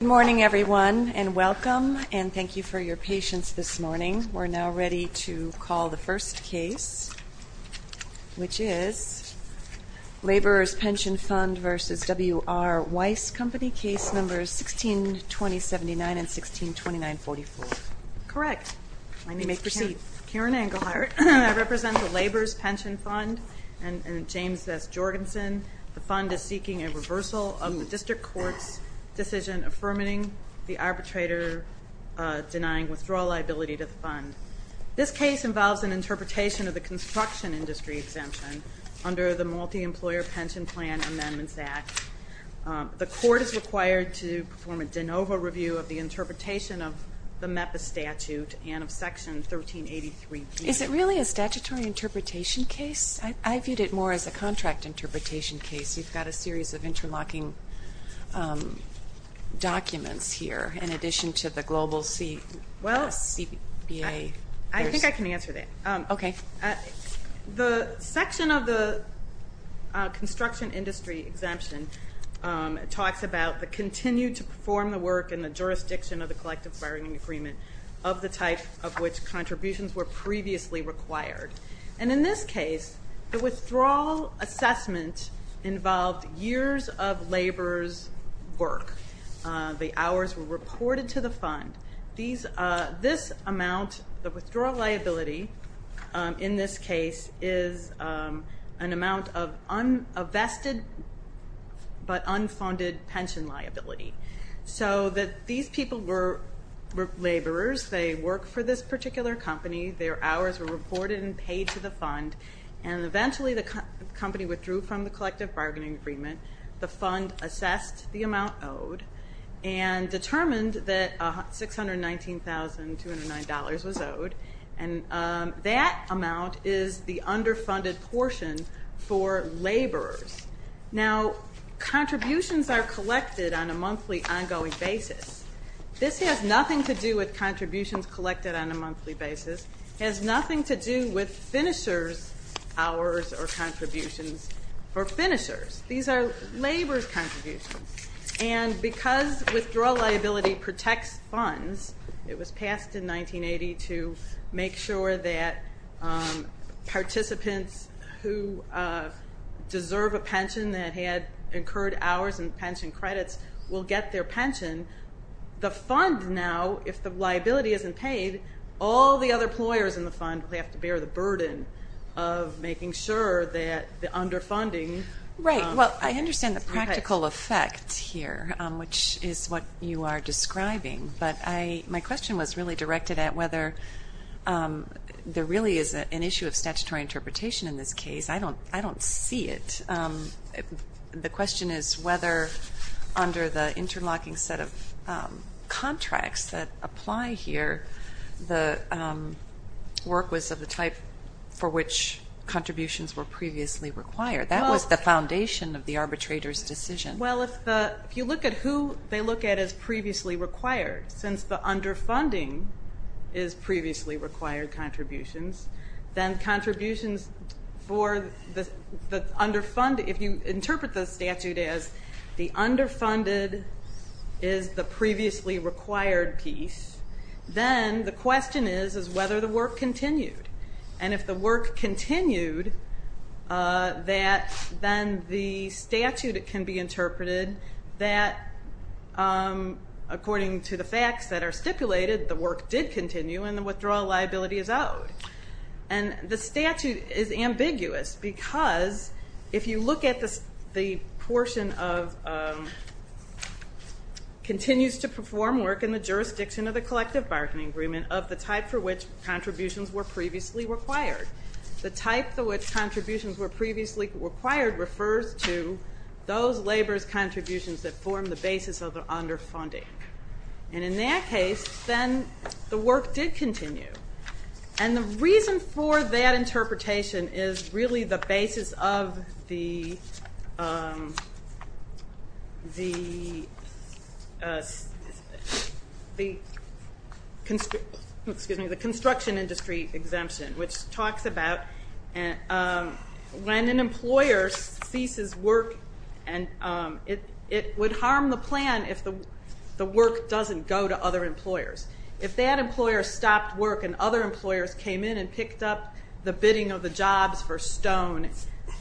Good morning, everyone, and welcome and thank you for your patience this morning. We're now ready to call the first case, which is Laborers' Pension Fund v. W.R. Weis Company, case numbers 16-2079 and 16-2944. Correct. You may proceed. Karen Englehart, I represent the Laborers' Pension Fund and James S. Jorgensen. The fund is seeking a reversal of the district court's decision affirming the arbitrator denying withdrawal liability to the fund. This case involves an interpretation of the construction industry exemption under the Multi-Employer Pension Plan Amendments Act. The court is required to perform a de novo review of the interpretation of the MEPA statute and of Section 1383B. Is it really a statutory interpretation case? I viewed it more as a contract interpretation case. You've got a series of interlocking documents here in addition to the global CBA. I think I can answer that. Okay. The section of the construction industry exemption talks about the continue to perform the work in the jurisdiction of the collective bargaining agreement of the type of which contributions were previously required. In this case, the withdrawal assessment involved years of laborers' work. The hours were reported to the fund. The withdrawal liability in this case is an amount of uninvested but unfunded pension liability. These people were laborers. They worked for this particular company. Their hours were reported and paid to the fund. Eventually, the company withdrew from the collective bargaining agreement. The fund assessed the amount owed and determined that $619,209 was owed. That amount is the underfunded portion for laborers. Now, contributions are collected on a monthly ongoing basis. This has nothing to do with contributions collected on a monthly basis. It has nothing to do with finishers' hours or contributions for finishers. These are laborers' contributions. And because withdrawal liability protects funds, it was passed in 1980 to make sure that participants who deserve a pension that had incurred hours and pension credits will get their pension. The fund, now, if the liability isn't paid, all the other employers in the fund will have to bear the burden of making sure that the underfunding… Right. Well, I understand the practical effect here, which is what you are describing. But my question was really directed at whether there really is an issue of statutory interpretation in this case. I don't see it. The question is whether under the interlocking set of contracts that apply here, the work was of the type for which contributions were previously required. That was the foundation of the arbitrator's decision. Well, if you look at who they look at as previously required, since the underfunding is previously required contributions, then contributions for the underfunding… the underfunded is the previously required piece, then the question is whether the work continued. And if the work continued, then the statute can be interpreted that according to the facts that are stipulated, the work did continue and the withdrawal liability is owed. And the statute is ambiguous because if you look at the portion of continues to perform work in the jurisdiction of the collective bargaining agreement of the type for which contributions were previously required. The type for which contributions were previously required refers to those labor's contributions that form the basis of the underfunding. And in that case, then the work did continue. And the reason for that interpretation is really the basis of the construction industry exemption, which talks about when an employer ceases work, it would harm the plan if the work doesn't go to other employers. If that employer stopped work and other employers came in and picked up the bidding of the jobs for stone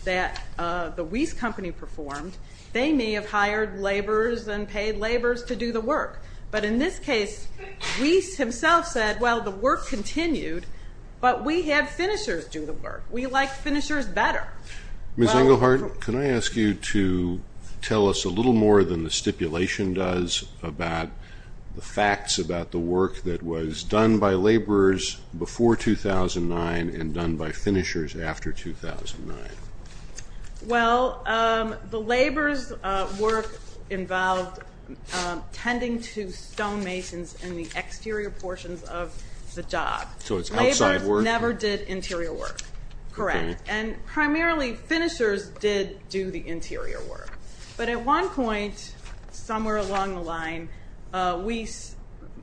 that the Weiss company performed, they may have hired laborers and paid laborers to do the work. But in this case, Weiss himself said, well, the work continued, but we had finishers do the work. We like finishers better. Ms. Engelhardt, can I ask you to tell us a little more than the stipulation does about the facts about the work that was done by laborers before 2009 and done by finishers after 2009? Well, the laborers' work involved tending to stonemasons in the exterior portions of the job. So it's outside work? Laborers never did interior work. Correct. And primarily, finishers did do the interior work. But at one point, somewhere along the line, Weiss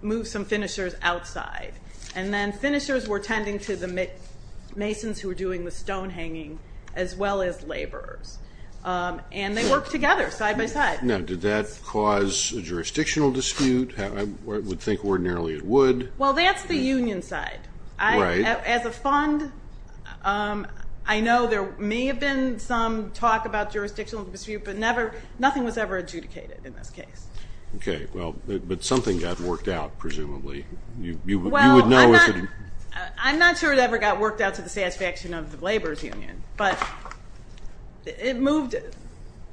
moved some finishers outside. And then finishers were tending to the masons who were doing the stone hanging, as well as laborers. And they worked together, side by side. Now, did that cause a jurisdictional dispute? I would think ordinarily it would. Well, that's the union side. Right. As a fund, I know there may have been some talk about jurisdictional dispute, but nothing was ever adjudicated in this case. Okay. Well, but something got worked out, presumably. Well, I'm not sure it ever got worked out to the satisfaction of the laborers' union, but it moved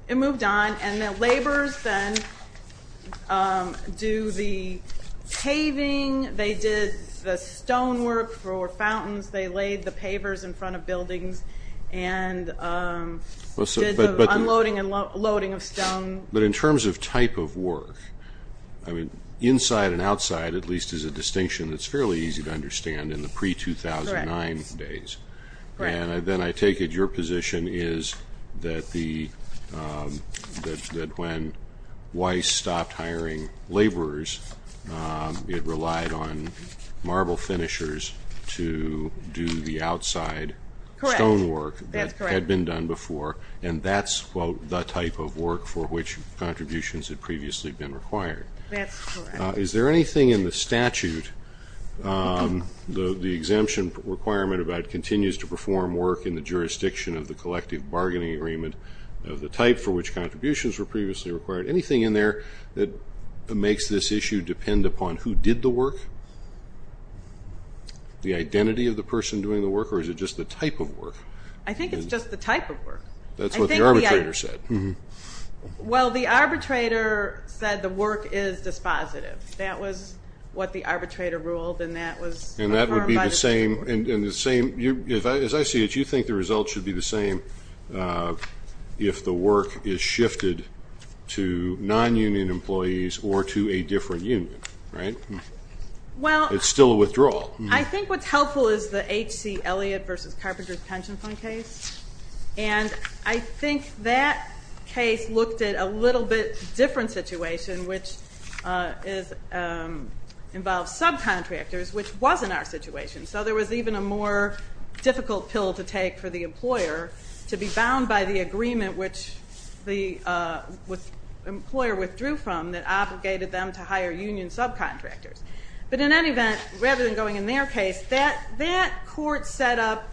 on. And the laborers then do the paving. They did the stone work for fountains. They laid the pavers in front of buildings and did the unloading and loading of stone. But in terms of type of work, I mean, inside and outside, at least, is a distinction that's fairly easy to understand in the pre-2009 days. Correct. And then I take it your position is that when Weiss stopped hiring laborers, it relied on marble finishers to do the outside stone work. Correct. That had been done before. And that's, quote, the type of work for which contributions had previously been required. That's correct. Is there anything in the statute, the exemption requirement about it continues to perform work in the jurisdiction of the collective bargaining agreement of the type for which contributions were previously required, anything in there that makes this issue depend upon who did the work, the identity of the person doing the work, or is it just the type of work? I think it's just the type of work. That's what the arbitrator said. Well, the arbitrator said the work is dispositive. That was what the arbitrator ruled, and that was confirmed by the court. And that would be the same. As I see it, you think the result should be the same if the work is shifted to non-union employees or to a different union, right? It's still a withdrawal. I think what's helpful is the H.C. Elliott v. Carpenters Pension Fund case. And I think that case looked at a little bit different situation, which involves subcontractors, which wasn't our situation. So there was even a more difficult pill to take for the employer to be bound by the agreement, which the employer withdrew from that obligated them to hire union subcontractors. But in any event, rather than going in their case, that court set up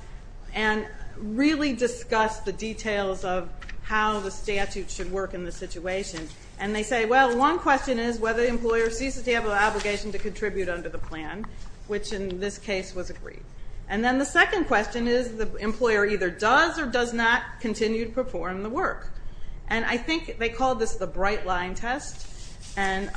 and really discussed the details of how the statute should work in the situation. And they say, well, one question is whether the employer ceases to have an obligation to contribute under the plan, which in this case was agreed. And then the second question is the employer either does or does not continue to perform the work. And I think they called this the bright line test. And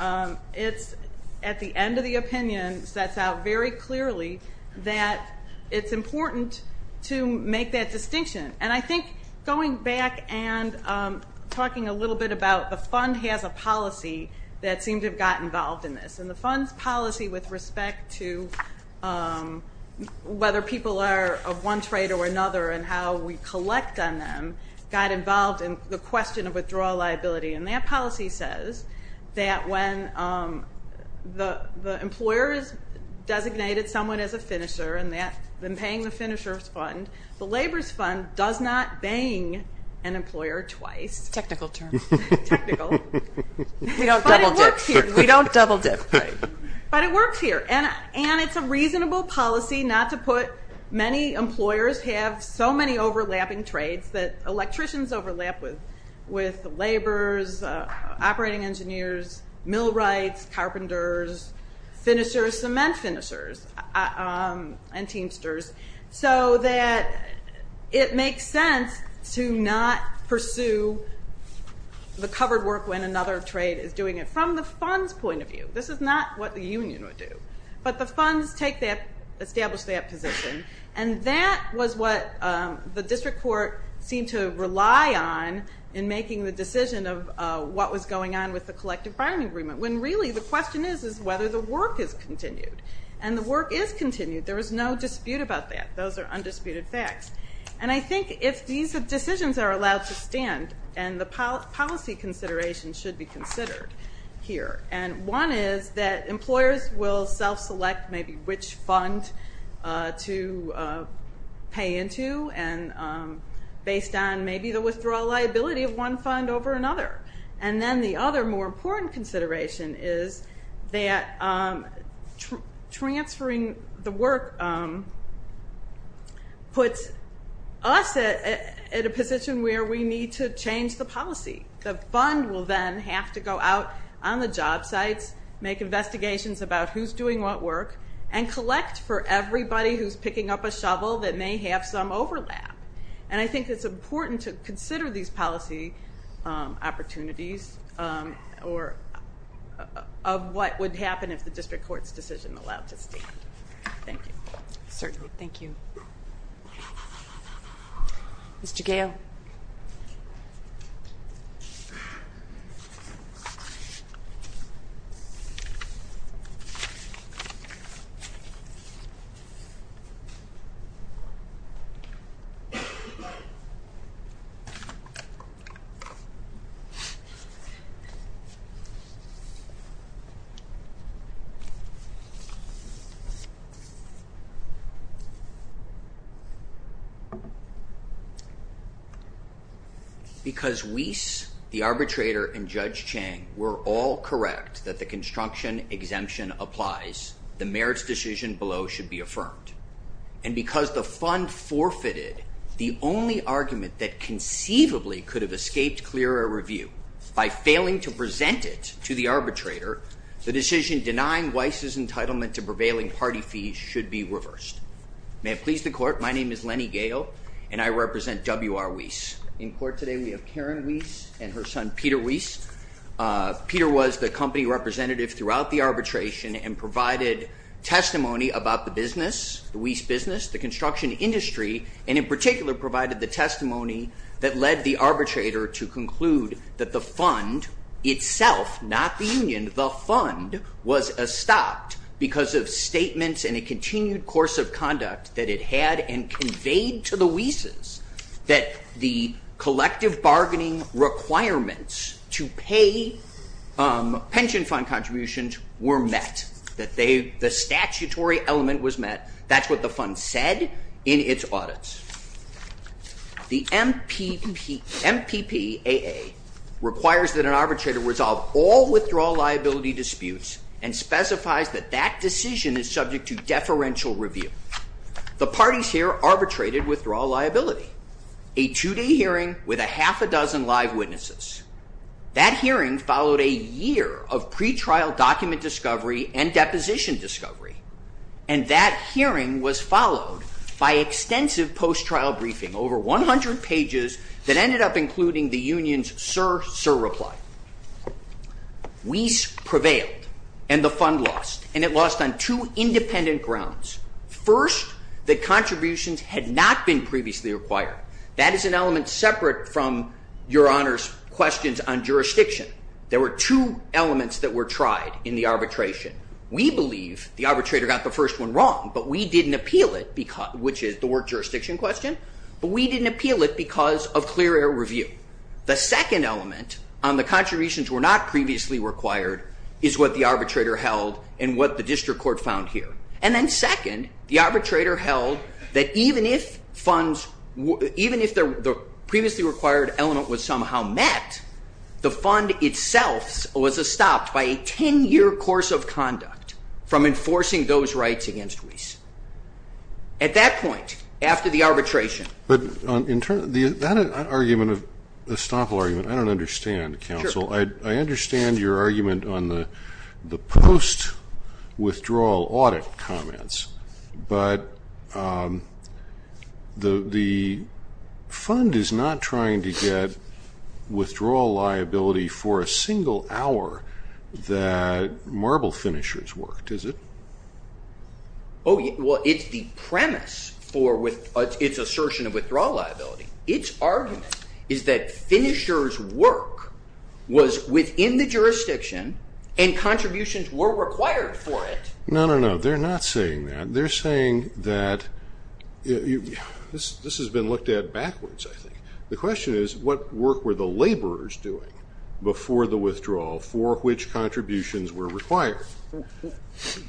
it's at the end of the opinion that's out very clearly that it's important to make that distinction. And I think going back and talking a little bit about the fund has a policy that seemed to have gotten involved in this. And the fund's policy with respect to whether people are of one trade or another and how we collect on them got involved in the question of withdrawal liability. And that policy says that when the employer has designated someone as a finisher and been paying the finisher's fund, the labor's fund does not bang an employer twice. Technical term. Technical. We don't double dip. But it works here. We don't double dip. But it works here. And it's a reasonable policy not to put many employers have so many overlapping trades that electricians overlap with laborers, operating engineers, millwrights, carpenters, finishers, cement finishers, and teamsters. So that it makes sense to not pursue the covered work when another trade is doing it from the fund's point of view. This is not what the union would do. But the funds take that, establish that position. And that was what the district court seemed to rely on in making the decision of what was going on with the collective bargaining agreement when really the question is whether the work is continued. And the work is continued. There is no dispute about that. Those are undisputed facts. And I think if these decisions are allowed to stand and the policy considerations should be considered here. And one is that employers will self-select maybe which fund to pay into based on maybe the withdrawal liability of one fund over another. And then the other more important consideration is that transferring the work puts us at a position where we need to change the policy. The fund will then have to go out on the job sites, make investigations about who's doing what work, and collect for everybody who's picking up a shovel that may have some overlap. And I think it's important to consider these policy opportunities or of what would happen if the district court's decision allowed to stay. Thank you. Certainly. Thank you. Mr. Gale. Because Weiss, the arbitrator, and Judge Chang were all correct that the construction exemption applies, the merits decision below should be affirmed. And because the fund forfeited the only argument that conceivably could have escaped clearer review by failing to present it to the arbitrator, the decision denying Weiss's entitlement to prevailing party fees should be reversed. May it please the court, my name is Lenny Gale, and I represent W.R. Weiss. In court today we have Karen Weiss and her son Peter Weiss. Peter was the company representative throughout the arbitration and provided testimony about the Weiss business, the construction industry, and in particular provided the testimony that led the arbitrator to conclude was stopped because of statements in a continued course of conduct that it had and conveyed to the Weiss's that the collective bargaining requirements to pay pension fund contributions were met, that the statutory element was met. That's what the fund said in its audits. The MPPAA requires that an arbitrator resolve all withdrawal liability disputes and specifies that that decision is subject to deferential review. The parties here arbitrated withdrawal liability. A two-day hearing with a half a dozen live witnesses. That hearing followed a year of pretrial document discovery and deposition discovery, and that hearing was followed by extensive post-trial briefing, over 100 pages that ended up including the union's sir, sir reply. Weiss prevailed and the fund lost, and it lost on two independent grounds. First, the contributions had not been previously required. That is an element separate from Your Honor's questions on jurisdiction. There were two elements that were tried in the arbitration. We believe the arbitrator got the first one wrong, but we didn't appeal it, which is the work jurisdiction question, but we didn't appeal it because of clear air review. The second element on the contributions were not previously required is what the arbitrator held and what the district court found here. And then second, the arbitrator held that even if funds, even if the previously required element was somehow met, the fund itself was stopped by a 10-year course of conduct from enforcing those rights against Weiss. At that point, after the arbitration. But in terms of that argument of a stop argument, I don't understand, Counsel. I understand your argument on the post-withdrawal audit comments, but the fund is not trying to get withdrawal liability for a single hour that marble finishers worked, is it? Oh, well, it's the premise for its assertion of withdrawal liability. Its argument is that finishers' work was within the jurisdiction and contributions were required for it. No, no, no. They're not saying that. They're saying that this has been looked at backwards, I think. The question is what work were the laborers doing before the withdrawal for which contributions were required?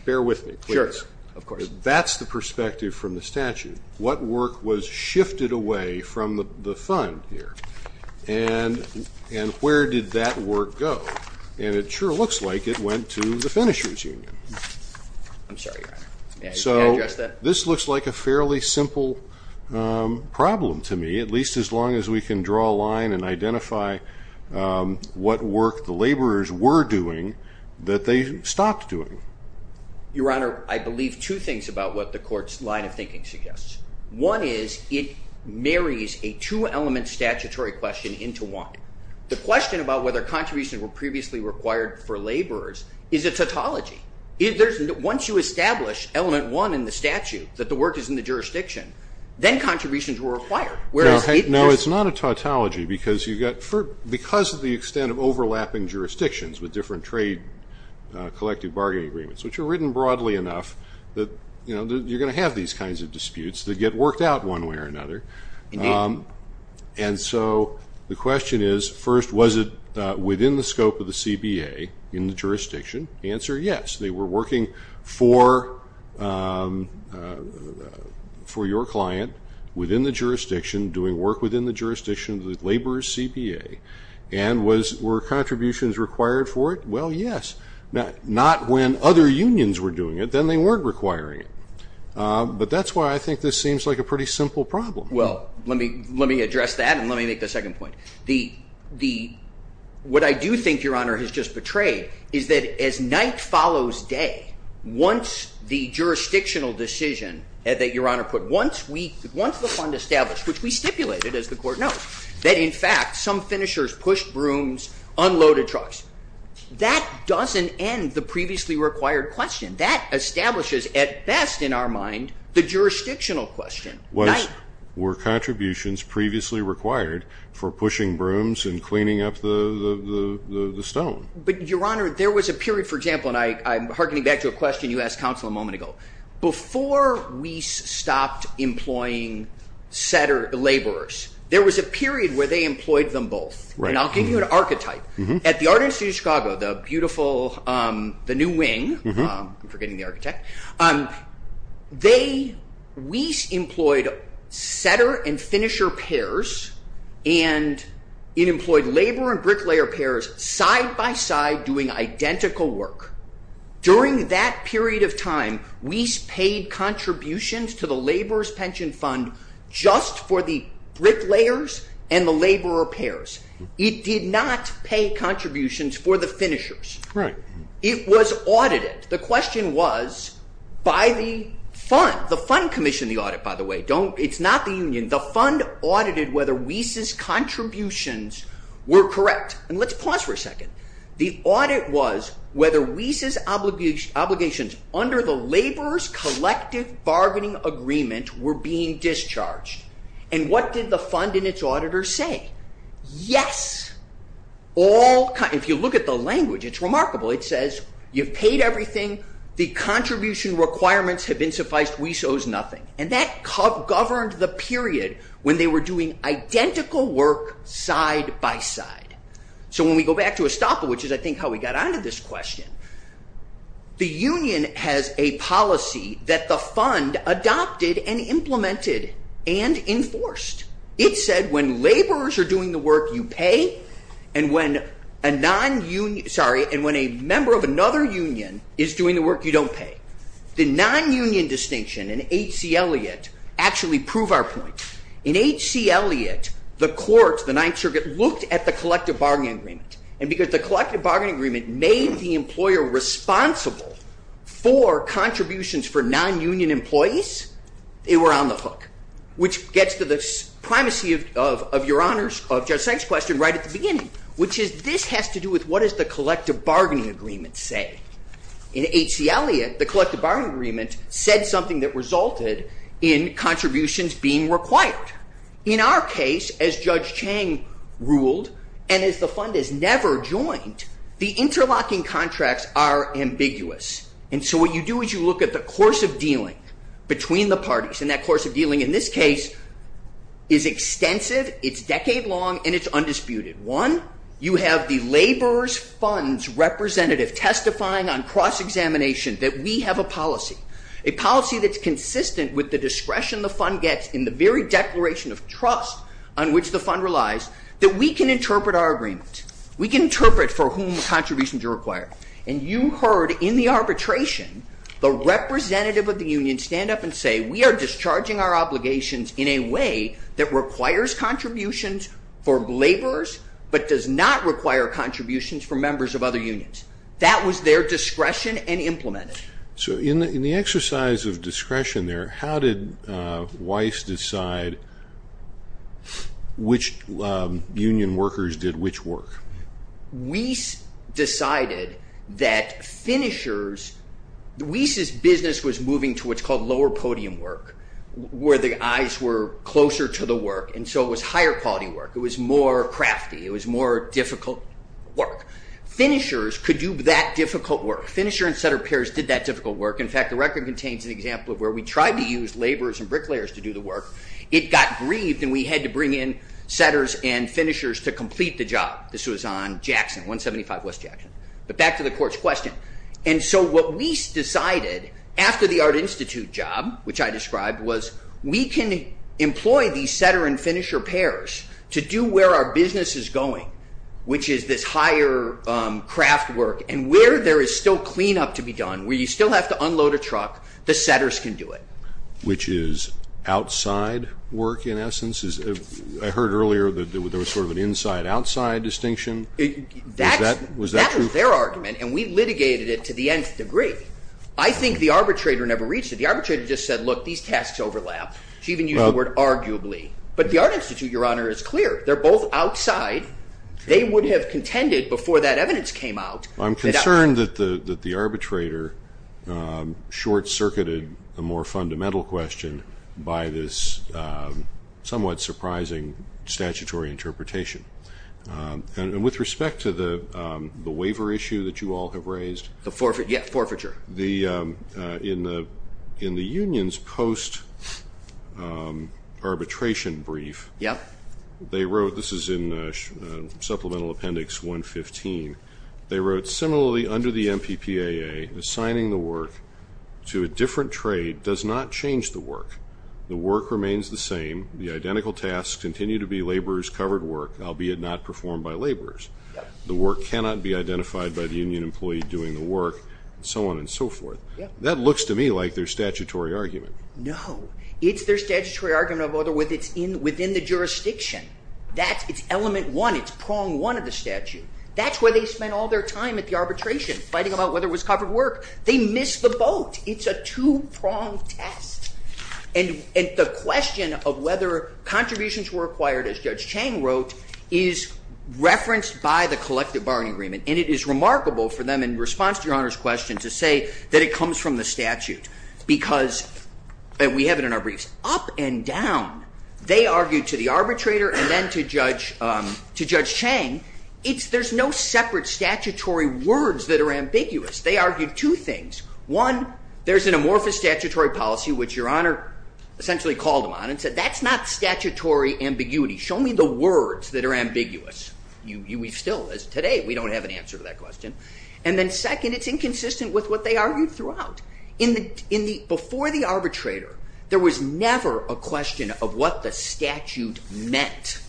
Bear with me, please. Sure, of course. That's the perspective from the statute. What work was shifted away from the fund here? And where did that work go? And it sure looks like it went to the finishers' union. I'm sorry, Your Honor. So this looks like a fairly simple problem to me, at least as long as we can draw a line and identify what work the laborers were doing that they stopped doing. Your Honor, I believe two things about what the Court's line of thinking suggests. One is it marries a two-element statutory question into one. The question about whether contributions were previously required for laborers is a tautology. Once you establish element one in the statute that the work is in the jurisdiction, then contributions were required. No, it's not a tautology because of the extent of overlapping jurisdictions with different trade collective bargaining agreements, which are written broadly enough that you're going to have these kinds of disputes that get worked out one way or another. And so the question is, first, was it within the scope of the CBA in the jurisdiction? The answer, yes. They were working for your client within the jurisdiction, doing work within the jurisdiction of the laborers' CBA. And were contributions required for it? Well, yes. Not when other unions were doing it. Then they weren't requiring it. But that's why I think this seems like a pretty simple problem. Well, let me address that, and let me make the second point. What I do think Your Honor has just portrayed is that as night follows day, once the jurisdictional decision that Your Honor put, once the fund established, which we stipulated, as the Court knows, that in fact some finishers pushed brooms, unloaded trucks, that doesn't end the previously required question. That establishes at best in our mind the jurisdictional question. Were contributions previously required for pushing brooms and cleaning up the stone? But Your Honor, there was a period, for example, and I'm hearkening back to a question you asked counsel a moment ago. Before Wyss stopped employing laborers, there was a period where they employed them both. And I'll give you an archetype. At the Art Institute of Chicago, the beautiful, the new wing, I'm forgetting the architect. They, Wyss employed setter and finisher pairs, and it employed laborer and bricklayer pairs side by side doing identical work. During that period of time, Wyss paid contributions to the laborer's pension fund just for the bricklayers and the laborer pairs. It did not pay contributions for the finishers. Right. It was audited. The question was by the fund. The fund commissioned the audit, by the way. It's not the union. The fund audited whether Wyss's contributions were correct. And let's pause for a second. The audit was whether Wyss's obligations under the laborers' collective bargaining agreement were being discharged. And what did the fund and its auditors say? Yes. If you look at the language, it's remarkable. It says you've paid everything. The contribution requirements have been sufficed. Wyss owes nothing. And that governed the period when they were doing identical work side by side. So when we go back to Estoppa, which is, I think, how we got on to this question, the union has a policy that the fund adopted and implemented and enforced. It said when laborers are doing the work, you pay, and when a member of another union is doing the work, you don't pay. The non-union distinction in H.C. Eliot actually proved our point. In H.C. Eliot, the courts, the Ninth Circuit, looked at the collective bargaining agreement. And because the collective bargaining agreement made the employer responsible for contributions for non-union employees, they were on the hook, which gets to the primacy of your honors, of Judge Seng's question right at the beginning, which is this has to do with what does the collective bargaining agreement say? In H.C. Eliot, the collective bargaining agreement said something that resulted in contributions being required. In our case, as Judge Chang ruled, and as the fund has never joined, the interlocking contracts are ambiguous. And so what you do is you look at the course of dealing between the parties, and that course of dealing in this case is extensive, it's decade-long, and it's undisputed. One, you have the laborer's fund's representative testifying on cross-examination that we have a policy, a policy that's consistent with the discretion the fund gets in the very declaration of trust on which the fund relies, that we can interpret our agreement. We can interpret for whom contributions are required. And you heard in the arbitration the representative of the union stand up and say, we are discharging our obligations in a way that requires contributions for laborers but does not require contributions for members of other unions. That was their discretion and implemented. So in the exercise of discretion there, how did Wyss decide which union workers did which work? Wyss decided that finishers, Wyss's business was moving to what's called lower podium work, where the eyes were closer to the work, and so it was higher quality work. It was more crafty. It was more difficult work. Finishers could do that difficult work. Finisher and setter pairs did that difficult work. In fact, the record contains an example of where we tried to use laborers and bricklayers to do the work. It got grieved, and we had to bring in setters and finishers to complete the job. This was on Jackson, 175 West Jackson. But back to the court's question. And so what Wyss decided after the Art Institute job, which I described, was we can employ these setter and finisher pairs to do where our business is going, which is this higher craft work, and where there is still cleanup to be done, where you still have to unload a truck, the setters can do it. Which is outside work in essence? I heard earlier that there was sort of an inside-outside distinction. Was that true? That was their argument, and we litigated it to the nth degree. I think the arbitrator never reached it. The arbitrator just said, look, these tasks overlap. She even used the word arguably. But the Art Institute, Your Honor, is clear. They're both outside. They would have contended before that evidence came out. I'm concerned that the arbitrator short-circuited a more fundamental question by this somewhat surprising statutory interpretation. And with respect to the waiver issue that you all have raised. Yeah, forfeiture. In the union's post-arbitration brief, they wrote, this is in Supplemental Appendix 115, they wrote, similarly under the MPPAA, assigning the work to a different trade does not change the work. The work remains the same. The identical tasks continue to be laborers' covered work, albeit not performed by laborers. The work cannot be identified by the union employee doing the work, and so on and so forth. That looks to me like their statutory argument. No. It's their statutory argument of whether it's within the jurisdiction. It's element one. It's prong one of the statute. That's where they spent all their time at the arbitration, fighting about whether it was covered work. They missed the boat. It's a two-prong test. And the question of whether contributions were acquired, as Judge Chang wrote, is referenced by the collective bargaining agreement. And it is remarkable for them, in response to Your Honor's question, to say that it comes from the statute. Because we have it in our briefs. Up and down, they argued to the arbitrator and then to Judge Chang. There's no separate statutory words that are ambiguous. They argued two things. One, there's an amorphous statutory policy, which Your Honor essentially called them on and said, that's not statutory ambiguity. Show me the words that are ambiguous. We still, as of today, we don't have an answer to that question. And then second, it's inconsistent with what they argued throughout. Before the arbitrator, there was never a question of what the statute meant.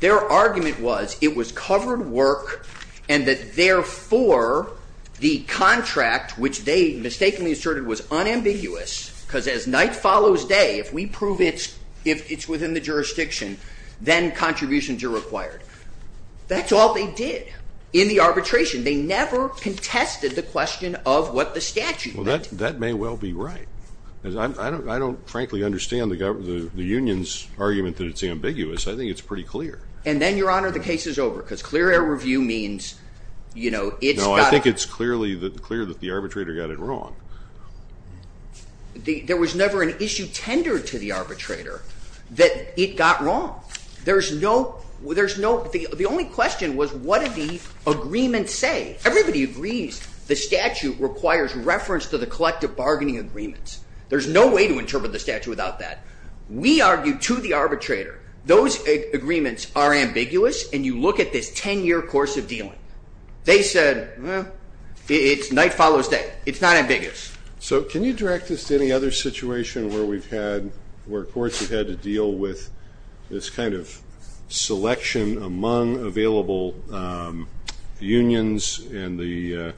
Their argument was it was covered work and that, therefore, the contract, which they mistakenly asserted was unambiguous, because as night follows day, if we prove it's within the jurisdiction, then contributions are required. That's all they did in the arbitration. They never contested the question of what the statute meant. Well, that may well be right. I don't frankly understand the union's argument that it's ambiguous. I think it's pretty clear. And then, Your Honor, the case is over, because clear air review means it's got to be. No, I think it's clear that the arbitrator got it wrong. There was never an issue tendered to the arbitrator that it got wrong. The only question was what did the agreement say. Everybody agrees the statute requires reference to the collective bargaining agreements. There's no way to interpret the statute without that. We argue to the arbitrator those agreements are ambiguous, and you look at this 10-year course of dealing. They said, well, it's night follows day. It's not ambiguous. So can you direct this to any other situation where courts have had to deal with this kind of selection among available unions and the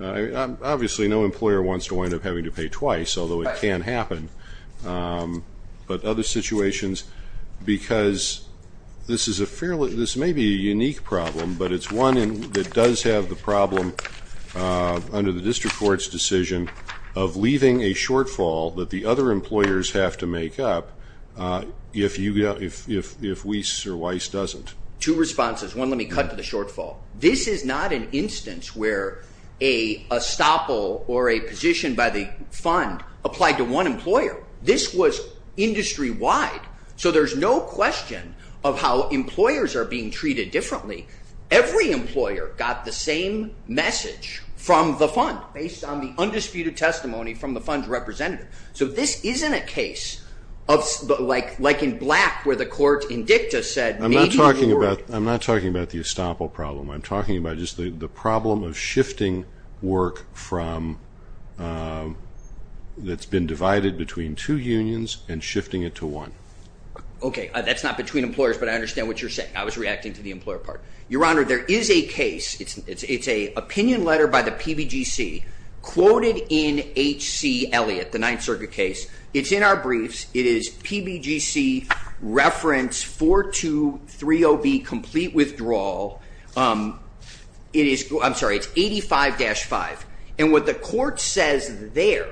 ñ obviously, no employer wants to wind up having to pay twice, although it can happen. But other situations, because this is a fairly ñ this may be a unique problem, but it's one that does have the problem under the district court's decision of leaving a shortfall that the other employers have to make up if Weiss or Weiss doesn't. Two responses. One, let me cut to the shortfall. This is not an instance where a estoppel or a position by the fund applied to one employer. This was industry-wide. So there's no question of how employers are being treated differently. Every employer got the same message from the fund, based on the undisputed testimony from the fund's representative. So this isn't a case of ñ like in Black where the court in dicta said maybe ñ I'm not talking about the estoppel problem. I'm talking about just the problem of shifting work from ñ that's been divided between two unions and shifting it to one. Okay. That's not between employers, but I understand what you're saying. I was reacting to the employer part. Your Honor, there is a case. It's an opinion letter by the PBGC quoted in H.C. Elliott, the Ninth Circuit case. It's in our briefs. It is PBGC reference 4230B, complete withdrawal. It is ñ I'm sorry. It's 85-5. And what the court says there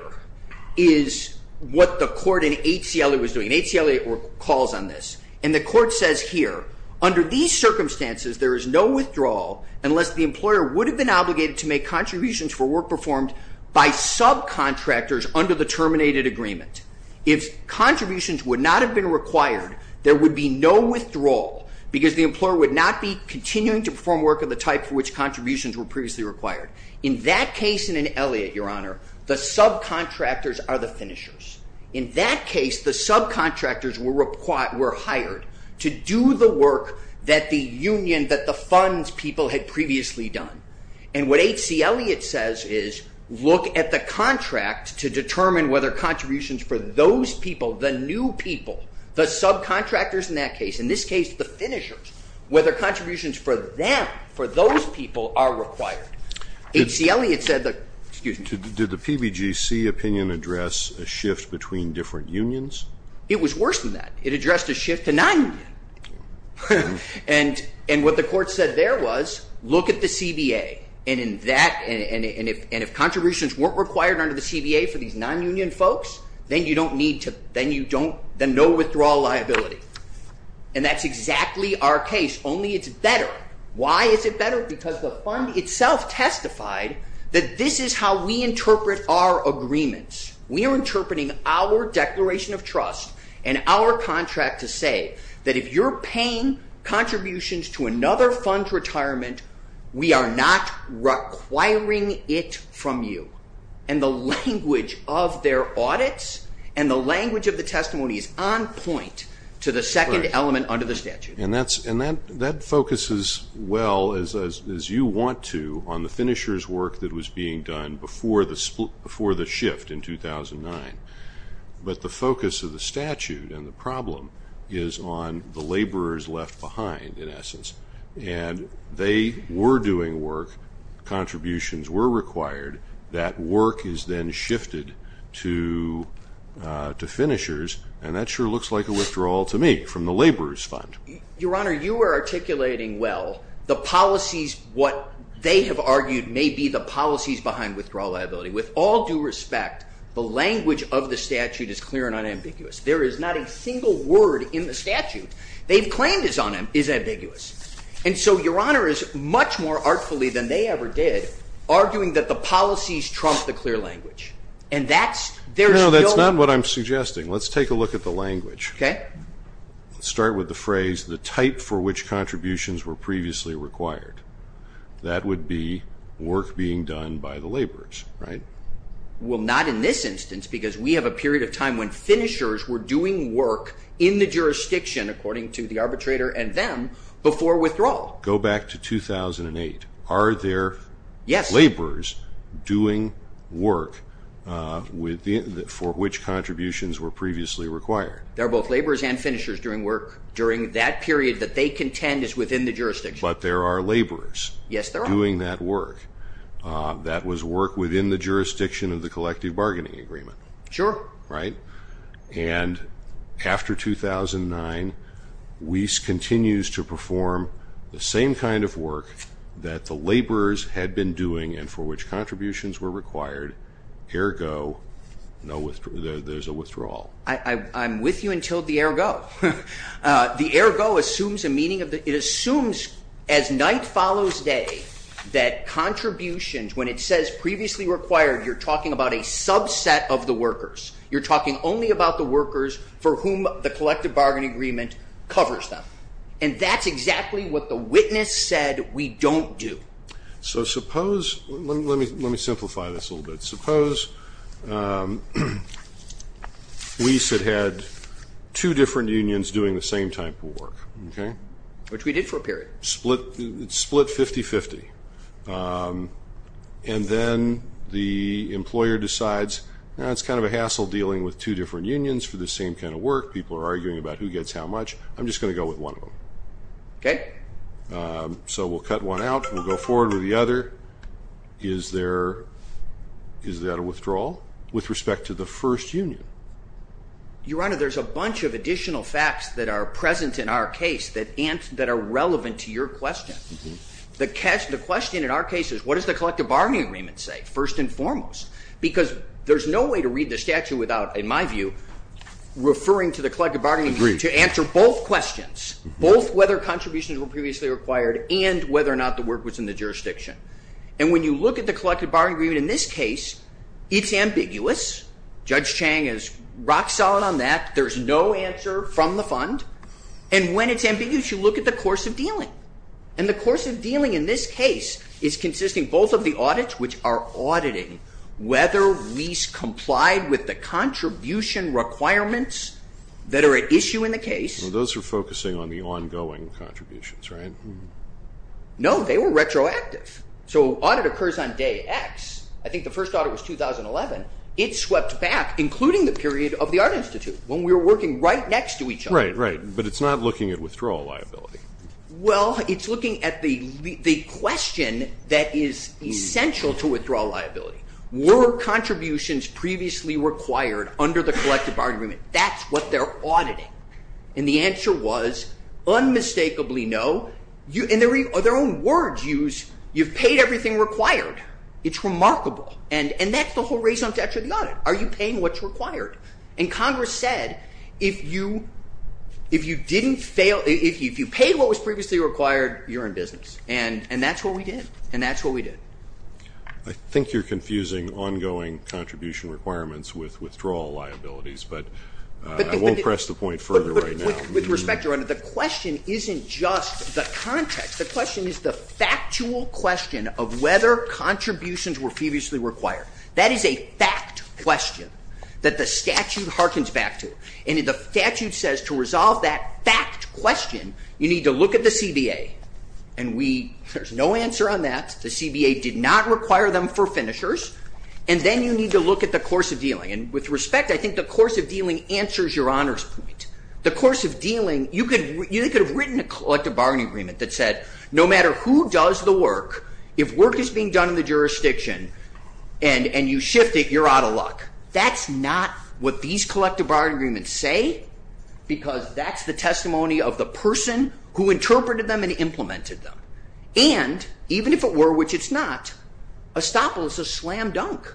is what the court in H.C. Elliott was doing. And H.C. Elliott calls on this. And the court says here, under these circumstances, there is no withdrawal unless the employer would have been obligated to make contributions for work performed by subcontractors under the terminated agreement. If contributions would not have been required, there would be no withdrawal because the employer would not be continuing to perform work of the type for which contributions were previously required. In that case in Elliott, Your Honor, the subcontractors are the finishers. In that case, the subcontractors were hired to do the work that the union, that the funds people had previously done. And what H.C. Elliott says is look at the contract to determine whether contributions for those people, the new people, the subcontractors in that case, in this case the finishers, whether contributions for them, for those people, are required. H.C. Elliott said that ñ excuse me. Did the PBGC opinion address a shift between different unions? It was worse than that. It addressed a shift to non-union. And what the court said there was look at the CBA. And if contributions weren't required under the CBA for these non-union folks, then no withdrawal liability. And that's exactly our case, only it's better. Why is it better? Because the fund itself testified that this is how we interpret our agreements. We are interpreting our declaration of trust and our contract to say that if you're paying contributions to another fund's retirement, we are not requiring it from you. And the language of their audits and the language of the testimony is on point to the second element under the statute. And that focuses well, as you want to, on the finishers' work that was being done before the shift in 2009. But the focus of the statute and the problem is on the laborers left behind, in essence. And they were doing work, contributions were required, that work is then shifted to finishers, and that sure looks like a withdrawal to me from the laborers' fund. Your Honor, you are articulating well the policies, what they have argued may be the policies behind withdrawal liability. With all due respect, the language of the statute is clear and unambiguous. There is not a single word in the statute they've claimed is ambiguous. And so Your Honor is much more artfully than they ever did arguing that the policies trump the clear language. No, that's not what I'm suggesting. Let's take a look at the language. Okay. Let's start with the phrase, the type for which contributions were previously required. That would be work being done by the laborers, right? Well, not in this instance because we have a period of time when finishers were doing work in the jurisdiction according to the arbitrator and them before withdrawal. Go back to 2008. Are there laborers doing work for which contributions were previously required? There are both laborers and finishers doing work during that period that they contend is within the jurisdiction. But there are laborers doing that work. Yes, there are. That was work within the jurisdiction of the collective bargaining agreement. Sure. Right? And after 2009, Wyss continues to perform the same kind of work that the laborers had been doing and for which contributions were required, ergo there's a withdrawal. I'm with you until the ergo. The ergo assumes a meaning of the – it assumes as night follows day that contributions, when it says previously required, you're talking about a subset of the workers. You're talking only about the workers for whom the collective bargaining agreement covers them. And that's exactly what the witness said we don't do. So suppose – let me simplify this a little bit. Suppose Wyss had had two different unions doing the same type of work. Which we did for a period. Split 50-50. And then the employer decides, it's kind of a hassle dealing with two different unions for the same kind of work. People are arguing about who gets how much. I'm just going to go with one of them. So we'll cut one out and we'll go forward with the other. Is there a withdrawal with respect to the first union? Your Honor, there's a bunch of additional facts that are present in our case that are relevant to your question. The question in our case is what does the collective bargaining agreement say first and foremost? Because there's no way to read the statute without, in my view, referring to the collective bargaining agreement to answer both questions. Both whether contributions were previously required and whether or not the work was in the jurisdiction. And when you look at the collective bargaining agreement in this case, it's ambiguous. Judge Chang is rock solid on that. There's no answer from the fund. And when it's ambiguous, you look at the course of dealing. And the course of dealing in this case is consisting both of the audits, which are auditing whether Wyss complied with the contribution requirements that are at issue in the case. Those are focusing on the ongoing contributions, right? No, they were retroactive. So audit occurs on day X. I think the first audit was 2011. It swept back, including the period of the Art Institute, when we were working right next to each other. Right, right. But it's not looking at withdrawal liability. Well, it's looking at the question that is essential to withdrawal liability. Were contributions previously required under the collective bargaining agreement? That's what they're auditing. And the answer was unmistakably no. And their own words use, you've paid everything required. It's remarkable. And that's the whole reason I'm attached to the audit. Are you paying what's required? And Congress said, if you paid what was previously required, you're in business. And that's what we did. And that's what we did. I think you're confusing ongoing contribution requirements with withdrawal liabilities. But I won't press the point further right now. With respect, Your Honor, the question isn't just the context. The question is the factual question of whether contributions were previously required. That is a fact question that the statute harkens back to. And the statute says to resolve that fact question, you need to look at the CBA. And there's no answer on that. The CBA did not require them for finishers. And then you need to look at the course of dealing. And with respect, I think the course of dealing answers Your Honor's point. The course of dealing, you could have written a collective bargaining agreement that said, no matter who does the work, if work is being done in the jurisdiction, and you shift it, you're out of luck. That's not what these collective bargaining agreements say, because that's the testimony of the person who interpreted them and implemented them. And even if it were, which it's not, estoppel is a slam dunk.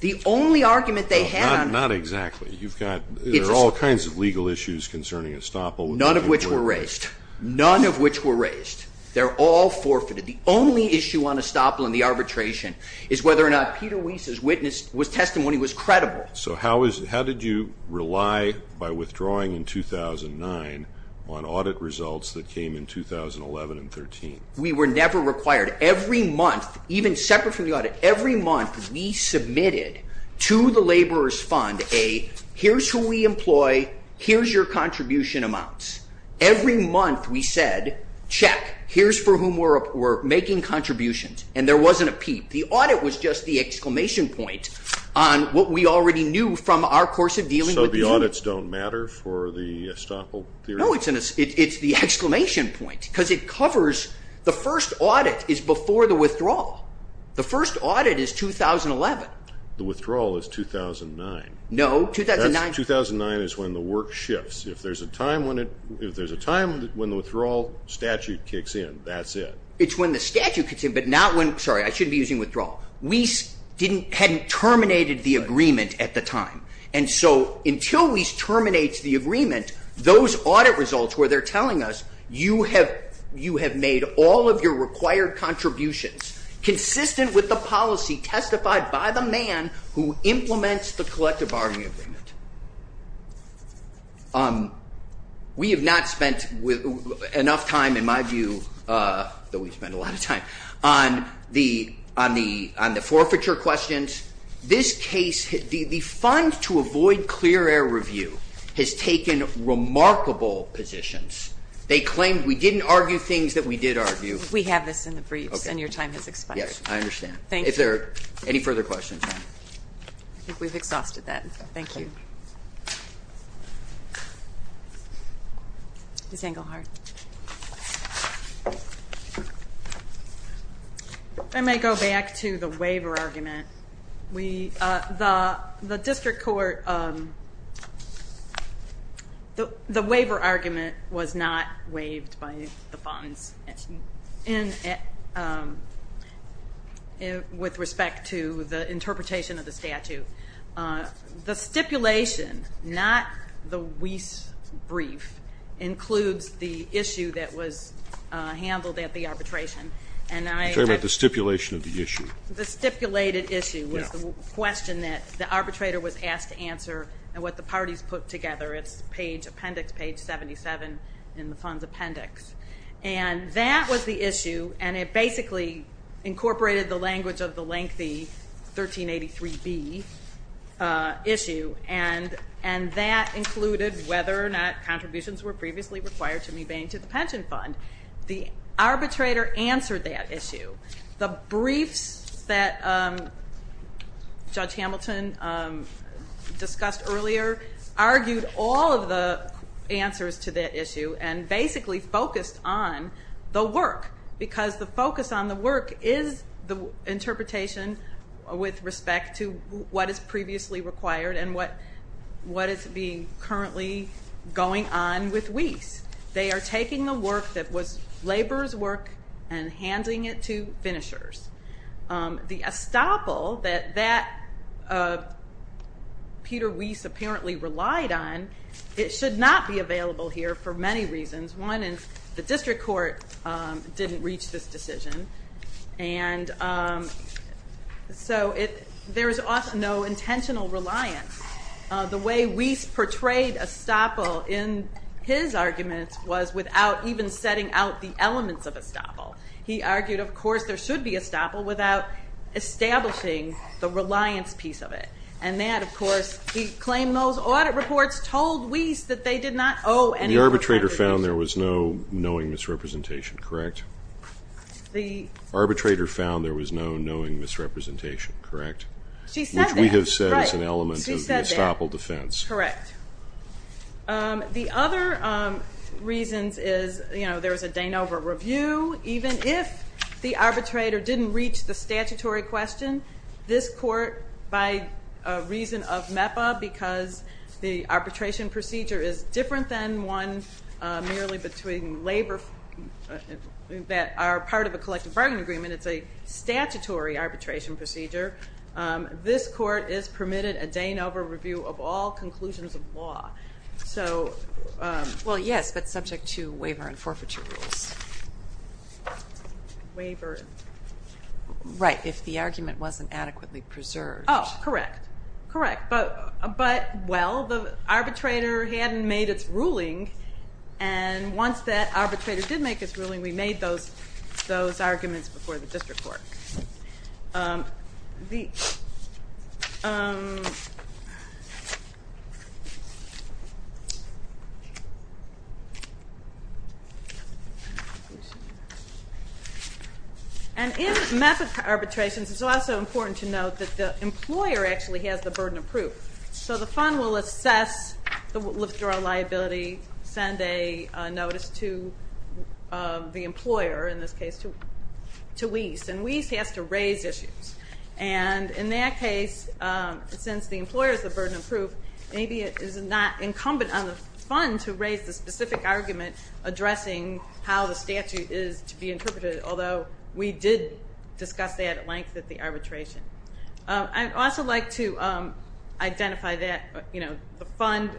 The only argument they had on it. Not exactly. There are all kinds of legal issues concerning estoppel. None of which were raised. None of which were raised. They're all forfeited. The only issue on estoppel and the arbitration is whether or not Peter Weese's witness was testimony was credible. So how did you rely, by withdrawing in 2009, on audit results that came in 2011 and 2013? We were never required. Every month, even separate from the audit, every month we submitted to the laborers fund a, here's who we employ, here's your contribution amounts. Every month we said, check, here's for whom we're making contributions. And there wasn't a peep. The audit was just the exclamation point on what we already knew from our course of dealing with the unit. So the audits don't matter for the estoppel theory? No, it's the exclamation point. Because it covers, the first audit is before the withdrawal. The first audit is 2011. The withdrawal is 2009. No, 2009. 2009 is when the work shifts. If there's a time when the withdrawal statute kicks in, that's it. It's when the statute kicks in, but not when, sorry, I shouldn't be using withdrawal. Weese hadn't terminated the agreement at the time. And so until Weese terminates the agreement, those audit results where they're telling us, you have made all of your required contributions consistent with the policy testified by the man who implements the collective bargaining agreement. We have not spent enough time, in my view, though we've spent a lot of time, on the forfeiture questions. This case, the fund to avoid clear air review has taken remarkable positions. They claim we didn't argue things that we did argue. We have this in the briefs and your time has expired. Yes, I understand. Thank you. If there are any further questions. I think we've exhausted that. Thank you. Ms. Engelhardt. If I may go back to the waiver argument. The district court, the waiver argument was not waived by the funds with respect to the interpretation of the statute. The stipulation, not the Weese brief, includes the issue that was handled at the arbitration. I'm talking about the stipulation of the issue. The stipulated issue was the question that the arbitrator was asked to answer and what the parties put together. It's appendix page 77 in the fund's appendix. That was the issue and it basically incorporated the language of the lengthy 1383B issue. That included whether or not contributions were previously required to be made to the pension fund. The arbitrator answered that issue. The briefs that Judge Hamilton discussed earlier argued all of the answers to that issue and basically focused on the work because the focus on the work is the interpretation with respect to what is previously required and what is currently going on with Weese. They are taking the work that was labor's work and handing it to finishers. The estoppel that Peter Weese apparently relied on, it should not be available here for many reasons. One is the district court didn't reach this decision and so there is no intentional reliance. The way Weese portrayed estoppel in his argument was without even setting out the elements of estoppel. He argued, of course, there should be estoppel without establishing the reliance piece of it. And that, of course, he claimed those audit reports told Weese that they did not owe any representation. The arbitrator found there was no knowing misrepresentation, correct? The... Arbitrator found there was no knowing misrepresentation, correct? She said that. Which we have said is an element of the estoppel defense. Correct. The other reasons is there was a Danova review. Even if the arbitrator didn't reach the statutory question, this court, by reason of MEPA, because the arbitration procedure is different than one merely between labor that are part of a collective bargaining agreement, it's a statutory arbitration procedure. This court is permitted a Danova review of all conclusions of law. So... Well, yes, but subject to waiver and forfeiture rules. Waiver... Right. If the argument wasn't adequately preserved. Oh, correct. Correct. But, well, the arbitrator hadn't made its ruling and once that arbitrator did make its ruling, we made those arguments before the district court. The... And in MEPA arbitrations, it's also important to note that the employer actually has the burden of proof. So the fund will assess the withdrawal liability, send a notice to the employer, in this case, to WIES. And WIES has to raise issues. And in that case, since the employer is the burden of proof, maybe it is not incumbent on the fund to raise the specific argument addressing how the statute is to be interpreted, although we did discuss that at length at the arbitration. I'd also like to identify that, you know, the fund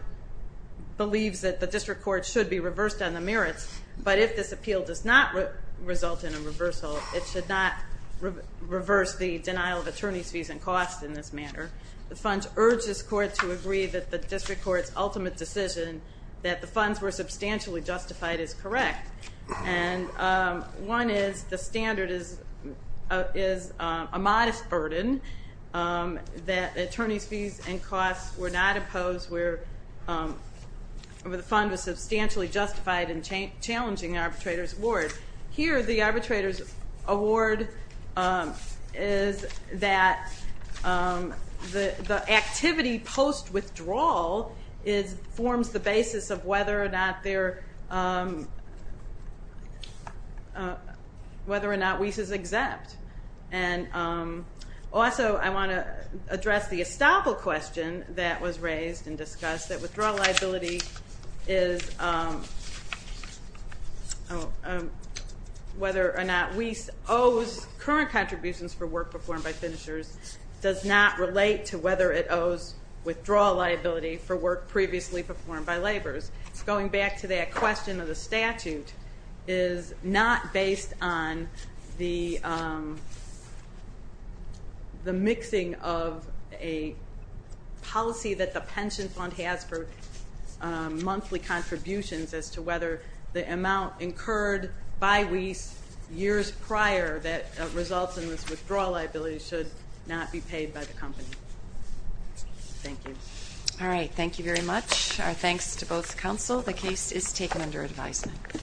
believes that the district court should be reversed on the merits, but if this appeal does not result in a reversal, it should not reverse the denial of attorney's fees and costs in this manner. The funds urge this court to agree that the district court's ultimate decision that the funds were substantially justified is correct. And one is the standard is a modest burden, that attorney's fees and costs were not imposed where the fund was substantially justified in challenging the arbitrator's award. Here, the arbitrator's award is that the activity post-withdrawal forms the basis of whether or not WIES is exempt. And also, I want to address the estoppel question that was raised and discussed, that withdrawal liability is whether or not WIES owes current contributions for work performed by finishers does not relate to whether it owes withdrawal liability for work previously performed by laborers. Going back to that question of the statute is not based on the mixing of a policy that the pension fund has for monthly contributions as to whether the amount incurred by WIES years prior that results in this withdrawal liability should not be paid by the company. Thank you. Alright, thank you very much. Our thanks to both counsel. The case is taken under advisement.